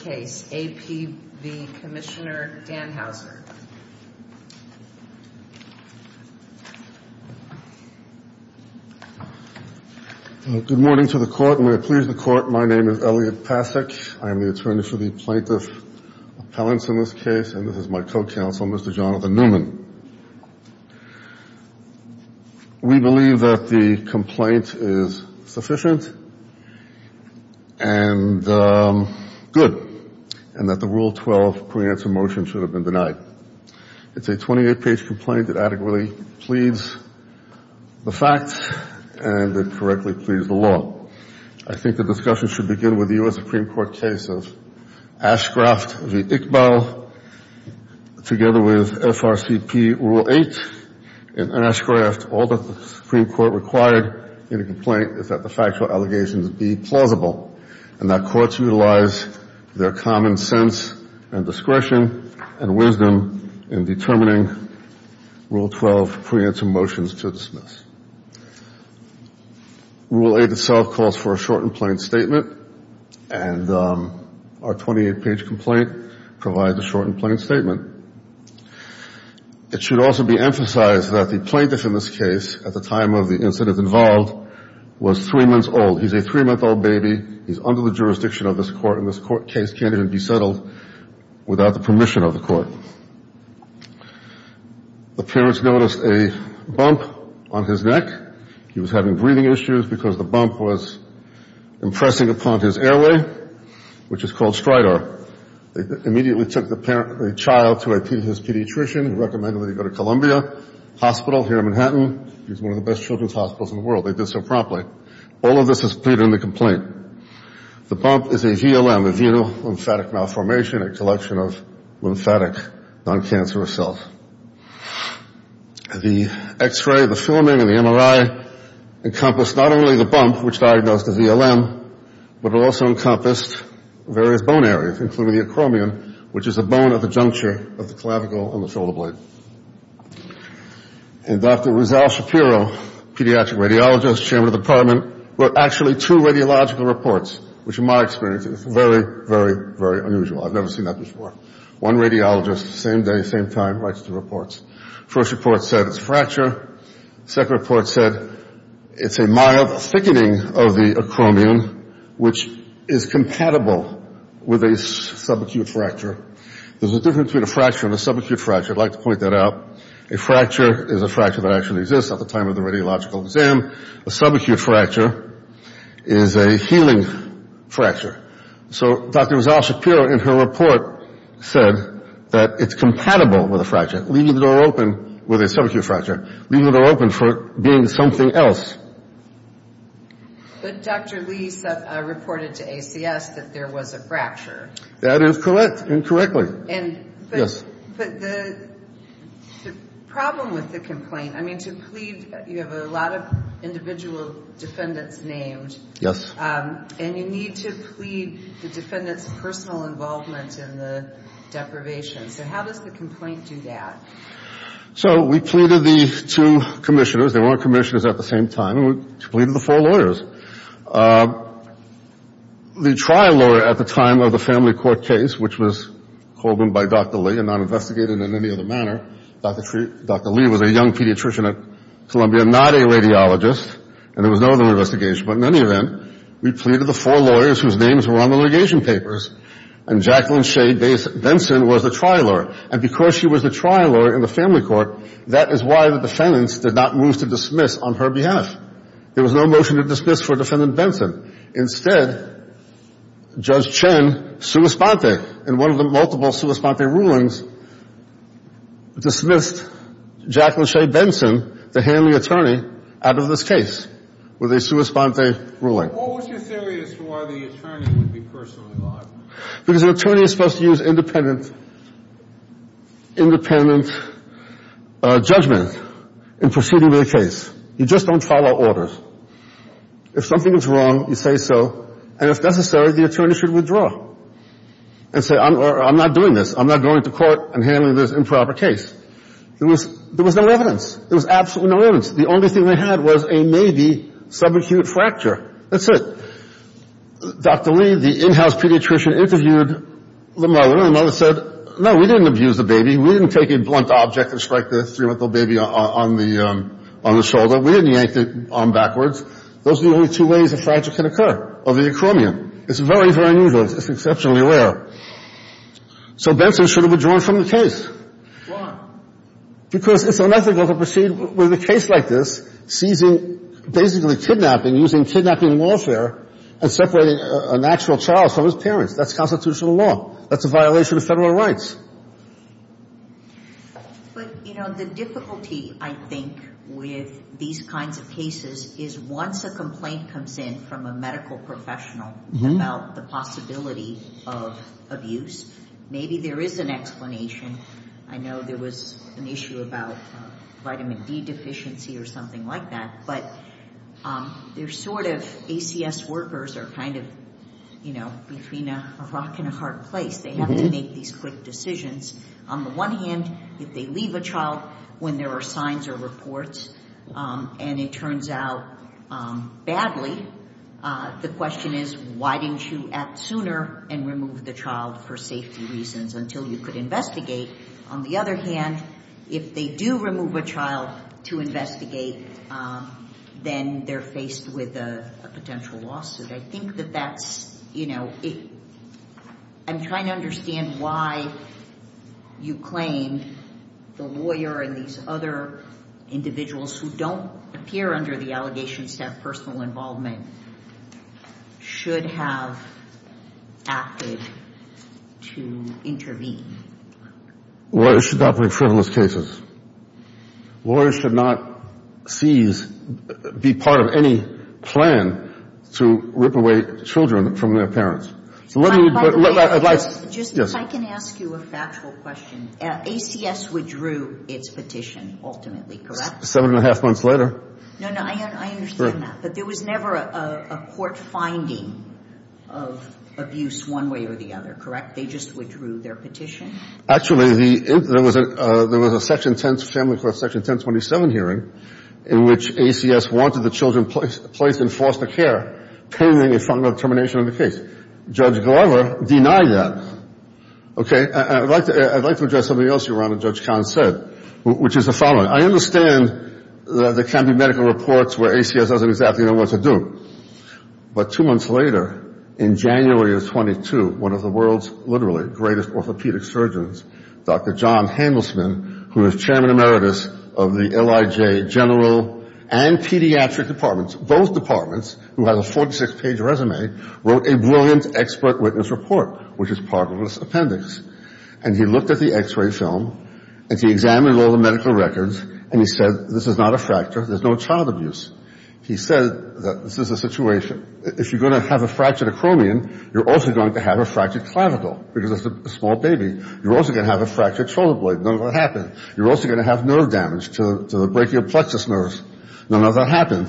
Good morning to the court, and may it please the court, my name is Elliot Passick, I am the attorney for the plaintiff appellants in this case, and this is my co-counsel, Mr. Jonathan Newman. We believe that the complaint is sufficient and good, and that the Rule 12 pre-answer motion should have been denied. It's a 28-page complaint that adequately pleads the facts and that correctly pleads the law. I think the discussion should begin with the U.S. Supreme Court's ruling that the factual allegations be plausible, and that courts utilize their common sense and discretion and wisdom in determining Rule 12 pre-answer motions to dismiss. Rule 8 itself calls for a short and plain statement, and our 28-page complaint provides a short and plain statement. It should also be emphasized that the plaintiff in this case, at the time of the incident involved, was three months old. He's a three-month-old baby, he's under the jurisdiction of this court, and this case can't even be settled without the permission of the court. The parents noticed a bump on his neck. He was having breathing issues because the bump was impressing upon his airway, which is called stridor. They immediately took the child to his pediatrician who recommended that he go to Columbia Hospital here in Manhattan. It's one of the best children's hospitals in the world. They did so promptly. All of this is pleaded in the complaint. The bump is a VLM, a venal lymphatic malformation, a collection of lymphatic non-cancerous cells. The X-ray, the filming, and the MRI encompass not only the bump, which diagnosed as VLM, but it also encompassed various bone areas, including the acromion, which is the bone at the juncture of the clavicle and the shoulder blade. And Dr. Rizal Shapiro, pediatric radiologist, chairman of the department, wrote actually two radiological reports, which in my experience is very, very, very unusual. I've never seen that before. One radiologist, same day, same time, writes two reports. First report said it's a fracture. Second report said it's a mild thickening of the acromion, which is compatible with a subacute fracture. There's a difference between a fracture and a subacute fracture. I'd like to point that out. A fracture is a fracture that actually exists at the time of the radiological exam. A subacute fracture is a healing fracture. So Dr. Rizal Shapiro in her report said that it's compatible with a fracture, leaving the door open with a subacute fracture, leaving the door open for being something else. But Dr. Lee reported to ACS that there was a fracture. That is correct. Incorrectly. But the problem with the complaint, I mean, to plead, you have a lot of individual defendants named. Yes. And you need to plead the defendant's personal involvement in the deprivation. So how does the complaint do that? So we pleaded the two commissioners. They weren't commissioners at the same time. We pleaded the four lawyers. The trial lawyer at the time of the family court case, which was called in by Dr. Lee and not investigated in any other manner, Dr. Lee was a young pediatrician at Columbia, not a radiologist, and there was no other investigation. But in any event, we pleaded the four lawyers whose names were on the litigation papers. And Jacqueline Shea Benson was the trial lawyer. And because she was the trial lawyer in the family court, that is why the defendants did not move to dismiss on her behalf. There was no motion to dismiss for Defendant Benson. Instead, Judge Chen, sua sponte, in one of the multiple sua sponte rulings, dismissed Jacqueline Shea Benson, the handling attorney, out of this case with a sua sponte ruling. What was your theory as to why the attorney would be personally involved? Because an attorney is supposed to use independent judgment in proceeding with a case. You just don't follow orders. If something is wrong, you say so. And if necessary, the attorney should withdraw and say, I'm not doing this. I'm not going to court and handling this improper case. There was no evidence. There was absolutely no evidence. The only thing they had was a baby, subacute fracture. That's it. Dr. Lee, the in-house pediatrician, interviewed the mother. And the mother said, no, we didn't abuse the baby. We didn't take a blunt object and strike the three-month-old baby on the shoulder. We didn't yank the arm backwards. Those are the only two ways a fracture can occur of the acromion. It's very, very unusual. It's exceptionally rare. So Benson should have withdrawn from the case. Why? Because it's unethical to proceed with a case like this, seizing, basically kidnapping, using kidnapping warfare and separating an actual child from his parents. That's constitutional law. That's a violation of Federal rights. But, you know, the difficulty, I think, with these kinds of cases is once a complaint comes in from a medical professional about the possibility of abuse, maybe there is an explanation. I know there was an issue about vitamin D deficiency or something like that. But they're sort of, ACS workers are kind of, you know, between a rock and a hard place. They have to make these quick decisions. On the one hand, if they leave a child when there are signs or reports, and it turns out badly, the question is, why didn't you act sooner and remove the child for safety reasons until you could investigate? On the other hand, if they do remove a child to investigate, then they're faced with a potential lawsuit. I think that that's, you know, I'm trying to understand why you claim the lawyer and these other individuals who don't appear under the allegation staff personal involvement should have acted to intervene. Lawyers should not believe frivolous cases. Lawyers should not seize, be part of any plan to rip away children from their parents. If I can ask you a factual question. ACS withdrew its petition ultimately, correct? Seven and a half months later. No, no, I understand that. But there was never a court finding of abuse one way or the other, correct? They just withdrew their petition? Actually, there was a section 10 family court, section 1027 hearing, in which ACS wanted the children placed in foster care pending a final determination of the case. Judge Glover denied that. Okay? I'd like to address something else you brought up, Judge where ACS doesn't exactly know what to do. But two months later, in January of 22, one of the world's literally greatest orthopedic surgeons, Dr. John Handelsman, who is chairman emeritus of the LIJ general and pediatric departments, both departments, who has a 46-page resume, wrote a brilliant expert witness report, which is part of this appendix. And he looked at the x-ray film and he examined all the medical records and he said, this is not a child abuse. He said that this is a situation. If you're going to have a fractured acromion, you're also going to have a fractured clavicle, because it's a small baby. You're also going to have a fractured shoulder blade. None of that happened. You're also going to have nerve damage to the brachial plexus nerves. None of that happened.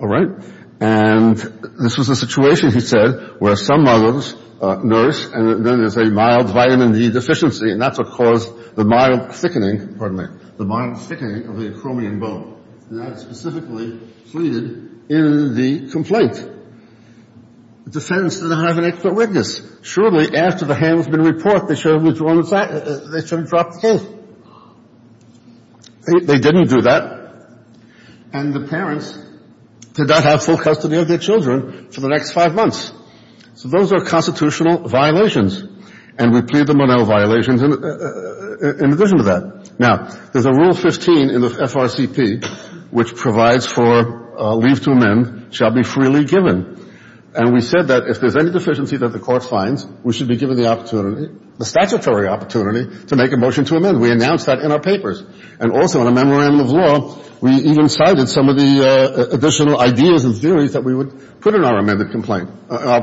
All right? And this was a situation, he said, where some mothers nurse and then there's a mild vitamin D deficiency and that's what caused the mild thickening, pardon me, the mild thickening of the acromion bone. And that's specifically pleaded in the complaint. The defense did not have an expert witness. Surely, after the Handelsman report, they should have withdrawn the fact, they should have dropped the case. They didn't do that. And the parents did not have full custody of their children for the next five months. So those are constitutional violations. And we plead them on all violations in addition to that. Now, there's a rule 15 in the FRCP which provides for leave to amend shall be freely given. And we said that if there's any deficiency that the court finds, we should be given the opportunity, the statutory opportunity to make a motion to amend. We announced that in our papers. And also in a memorandum of law, we even cited some of the additional ideas and theories that we would put in our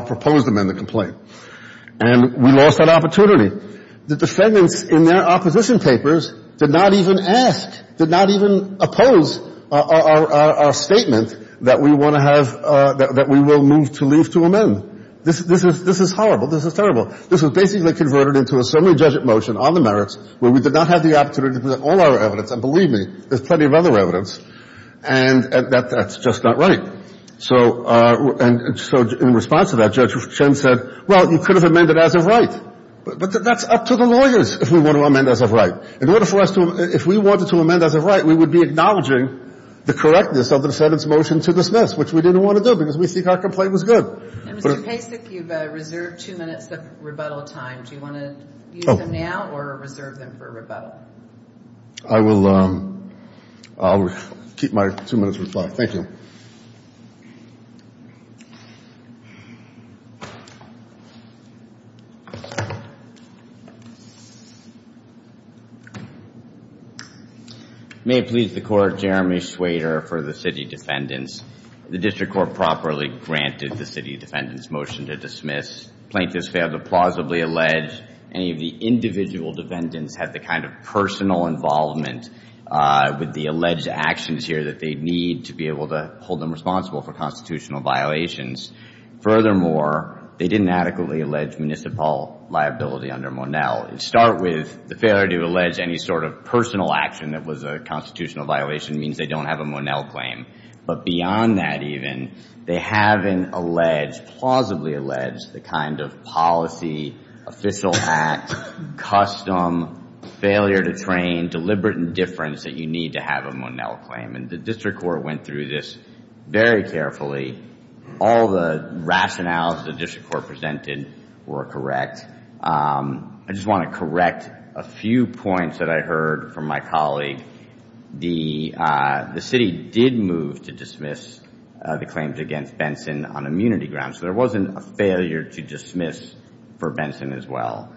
proposed amendment complaint. And we lost that opportunity. The defendants in their opposition papers did not even ask, did not even oppose our statement that we want to have, that we will move to leave to amend. This is horrible. This is terrible. This is basically converted into a summary judgment motion on the merits where we did not have the opportunity to present all our evidence. And believe me, there's plenty of other evidence. And that's just not right. So in response to that, Judge Chen said, well, you could have amended as of right. But that's up to the lawyers if we want to amend as of right. In order for us to – if we wanted to amend as of right, we would be acknowledging the correctness of the defendant's motion to dismiss, which we didn't want to do because we think our complaint was good. And, Mr. Pacek, you've reserved two minutes of rebuttal time. Do you want to use them now or reserve them for rebuttal? I will keep my two minutes rebuttal time. Thank you. May it please the Court, Jeremy Swader for the city defendants. The District Court properly granted the city defendants' motion to dismiss. Plaintiffs failed to plausibly allege any of the individual defendants had the kind of personal involvement with the alleged actions here that they'd need to be able to hold them responsible for constitutional violations. Furthermore, they didn't adequately allege municipal liability under Monell. Start with the failure to allege any sort of personal action that was a constitutional violation means they don't have a Monell claim. But beyond that, even, they haven't alleged, plausibly alleged, the kind of policy, official act, custom, failure to train, deliberate indifference that you need to have a Monell claim. And the District Court went through this very carefully. All the rationales the District Court presented were correct. I just want to correct a few points that I heard from my colleague. The city did move to dismiss the claims against Benson on immunity grounds. So there wasn't a failure to dismiss for Benson as well.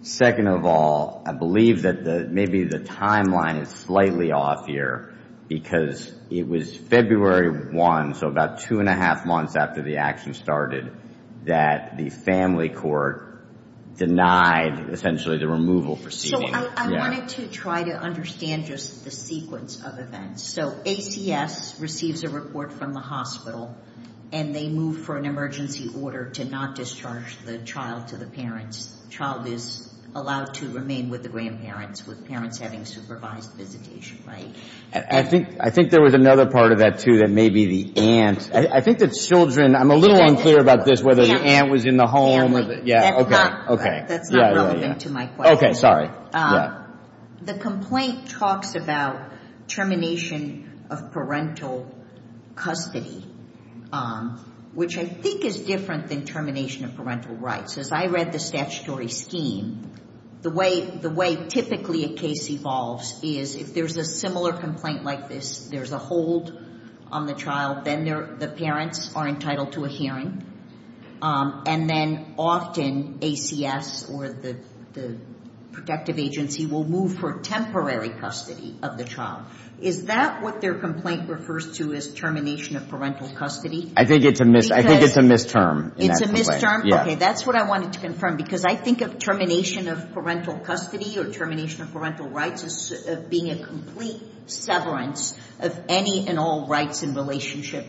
Second of all, I believe that maybe the timeline is slightly off here because it was February 1, so about two and a half months after the action started, that the family court denied essentially the removal proceeding. I wanted to try to understand just the sequence of events. So ACS receives a report from the hospital and they move for an emergency order to not discharge the child to the parents. Child is allowed to remain with the grandparents with parents having supervised visitation, right? I think there was another part of that, too, that may be the aunt. I think that children, I'm a little unclear about this, whether the aunt was in the home. That's not relevant to my question. Okay, sorry. The complaint talks about termination of parental custody, which I think is different than termination of parental rights. As I read the statutory scheme, the way typically a case evolves is if there's a similar complaint like this, there's a hold on the child, then the parents are moved for temporary custody of the child. Is that what their complaint refers to as termination of parental custody? I think it's a misterm. It's a misterm? Yeah. Okay, that's what I wanted to confirm because I think of termination of parental custody or termination of parental rights as being a complete severance of any and all rights in relationship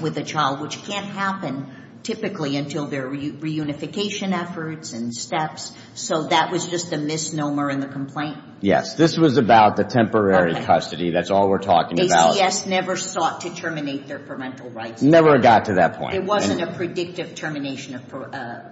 with a child, which can't happen typically until there are reunification efforts and steps. So that was just a misnomer in the complaint? Yes, this was about the temporary custody. That's all we're talking about. ACS never sought to terminate their parental rights. Never got to that point. It wasn't a predictive termination of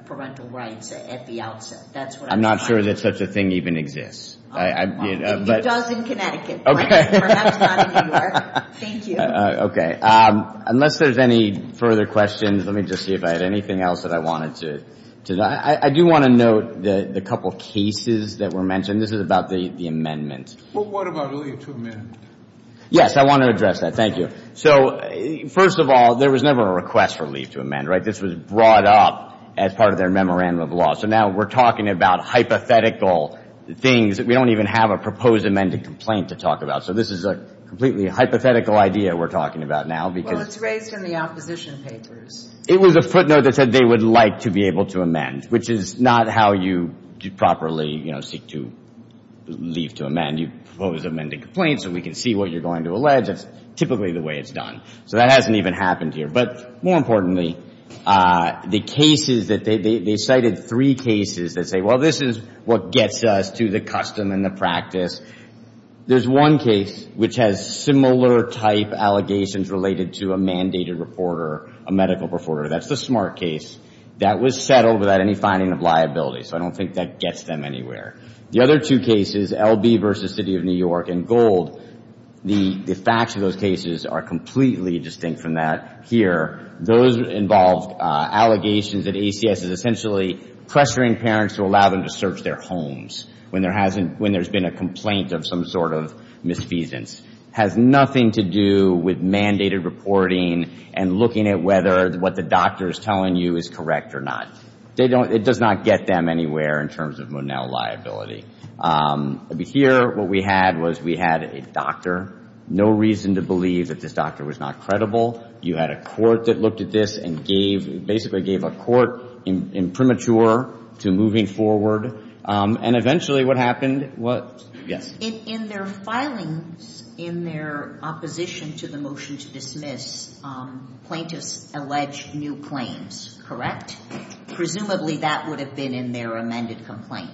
parental rights at the outset. That's what I'm trying to say. I'm not sure that such a thing even exists. If it does in Connecticut, perhaps not in New York. Thank you. Okay, unless there's any further questions, let me just see if I had anything else that I wanted to I do want to note the couple of cases that were mentioned. This is about the amendment. Well, what about leave to amend? Yes, I want to address that. Thank you. So first of all, there was never a request for leave to amend, right? This was brought up as part of their memorandum of law. So now we're talking about hypothetical things that we don't even have a proposed amended complaint to talk about. So this is a completely hypothetical idea we're talking about now. Well, it's raised in the opposition papers. It was a footnote that said they would like to be able to amend, which is not how you properly seek to leave to amend. You propose amended complaints so we can see what you're going to allege. That's typically the way it's done. So that hasn't even happened here. But more importantly, the cases that they cited, three cases that say, well, this is what gets us to the custom and the practice. There's one case which has similar type allegations related to a mandated reporter, a medical reporter. That's the Smart case. That was settled without any finding of liability. So I don't think that gets them anywhere. The other two cases, L.B. versus City of New York and Gold, the facts of those cases are completely distinct from that here. Those involved allegations that ACS is essentially pressuring parents to allow them to search their homes when there's been a complaint of some sort of misdemeanors, has nothing to do with mandated reporting and looking at whether what the doctor is telling you is correct or not. It does not get them anywhere in terms of Monell liability. Here, what we had was we had a doctor. No reason to believe that this doctor was not credible. You had a court that looked at this and basically gave a court imprimatur to moving forward. And eventually what happened was, yes? In their filings, in their opposition to the motion to dismiss, plaintiffs alleged new claims, correct? Presumably that would have been in their amended complaint.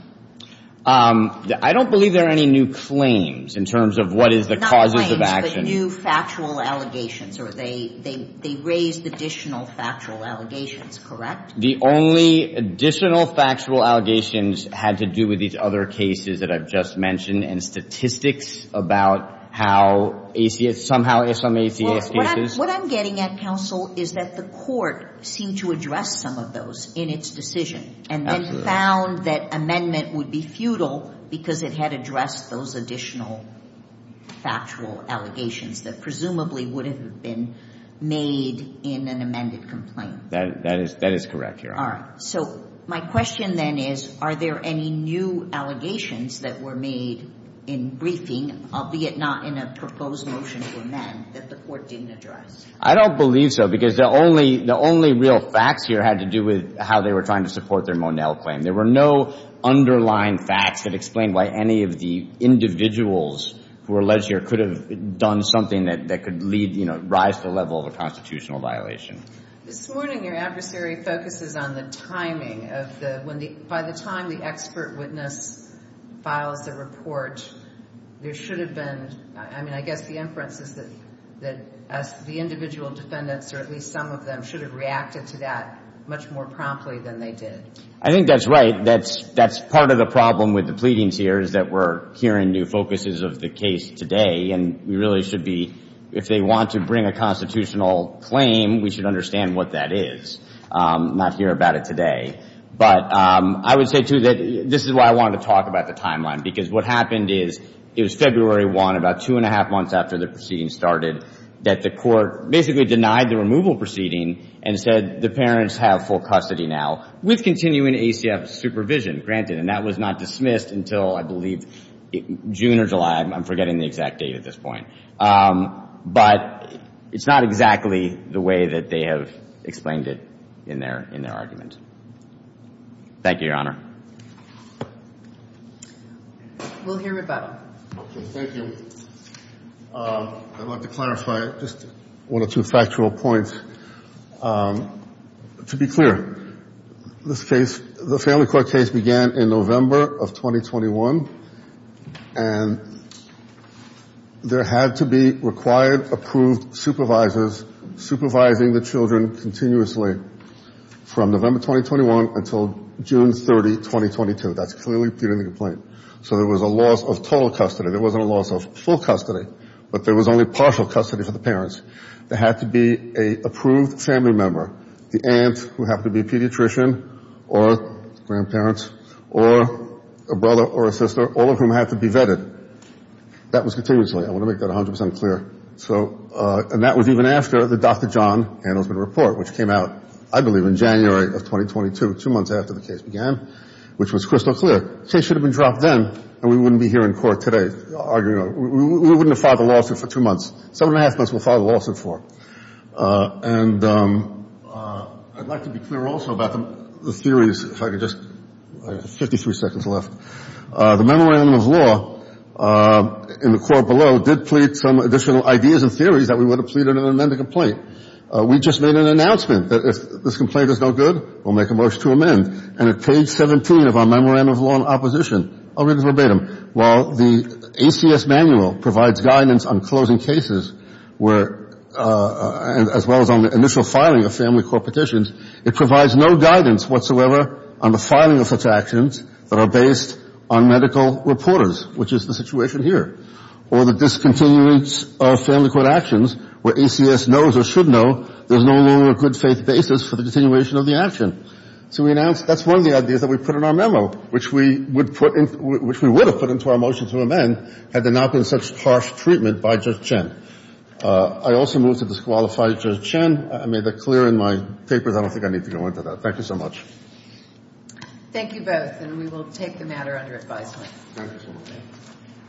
I don't believe there are any new claims in terms of what is the causes of action. Not claims, but new factual allegations, or they raised additional factual allegations, correct? The only additional factual allegations had to do with these other cases that I've just mentioned and statistics about how ACS, somehow some ACS cases. What I'm getting at, counsel, is that the court seemed to address some of those in its decision. And then found that amendment would be futile because it had addressed those additional factual allegations that presumably would have been made in an amended complaint. That is correct, Your Honor. All right. So my question then is, are there any new allegations that were made in briefing, albeit not in a proposed motion to amend, that the court didn't address? I don't believe so, because the only real facts here had to do with how they were trying to support their Monell claim. There were no underlying facts that explained why any of the individuals who were alleged here could have done something that could lead, you know, rise to the level of a constitutional violation. This morning, your adversary focuses on the timing of the, when the, by the time the expert witness files a report, there should have been, I mean, I guess the inference is that the individual defendants, or at least some of them, should have reacted to that much more promptly than they did. I think that's right. That's part of the problem with the pleadings here is that we're hearing new focuses of the case today. And we really should be, if they want to bring a constitutional claim, we should understand what that is. Not hear about it today. But I would say, too, that this is why I wanted to talk about the timeline. Because what happened is, it was February 1, about two and a half months after the proceeding started, that the court basically denied the removal proceeding and said the parents have full custody now, with continuing ACF supervision granted. And that was not dismissed until, I believe, June or July. I'm forgetting the exact date at this point. But it's not exactly the way that they have explained it in their argument. Thank you, Your Honor. We'll hear about it. Thank you. I'd like to clarify just one or two factual points. To be clear, this case, the family court case began in November of 2021. And there had to be required approved supervisors supervising the children continuously from November 2021 until June 30, 2022. That's clearly put in the complaint. So there was a loss of total custody. There wasn't a loss of full custody. But there was only partial custody for the parents. There had to be an approved family member, the aunt, who happened to be a pediatrician, or grandparents, or a brother or a sister, all of whom had to be vetted. That was continuously. I want to make that 100% clear. And that was even after the Dr. John Handelsman report, which came out, I believe, in January of 2022, two months after the case began, which was crystal clear. The case should have been dropped then, and we wouldn't be here in court today arguing. We wouldn't have filed a lawsuit for two months. Seven and a half months, we'll file a lawsuit for. And I'd like to be clear also about the theories, if I could just – I have 53 seconds left. The Memorandum of Law in the court below did plead some additional ideas and theories that we would have pleaded in an amended complaint. We just made an announcement that if this complaint is no good, we'll make a motion to amend. And at page 17 of our Memorandum of Law in opposition, I'll read it verbatim. While the ACS manual provides guidance on closing cases as well as on the initial filing of family court petitions, it provides no guidance whatsoever on the filing of such actions that are based on medical reporters, which is the situation here, or the discontinuance of family court actions where ACS knows or should know there's no longer a good faith basis for the continuation of the action. So we announced – that's one of the ideas that we put in our memo, which we would put in – which we would have put into our motion to amend had there not been such harsh treatment by Judge Chen. I also move to disqualify Judge Chen. I made that clear in my papers. I don't think I need to go into that. Thank you so much. Thank you both, and we will take the matter under advisement. Thank you so much.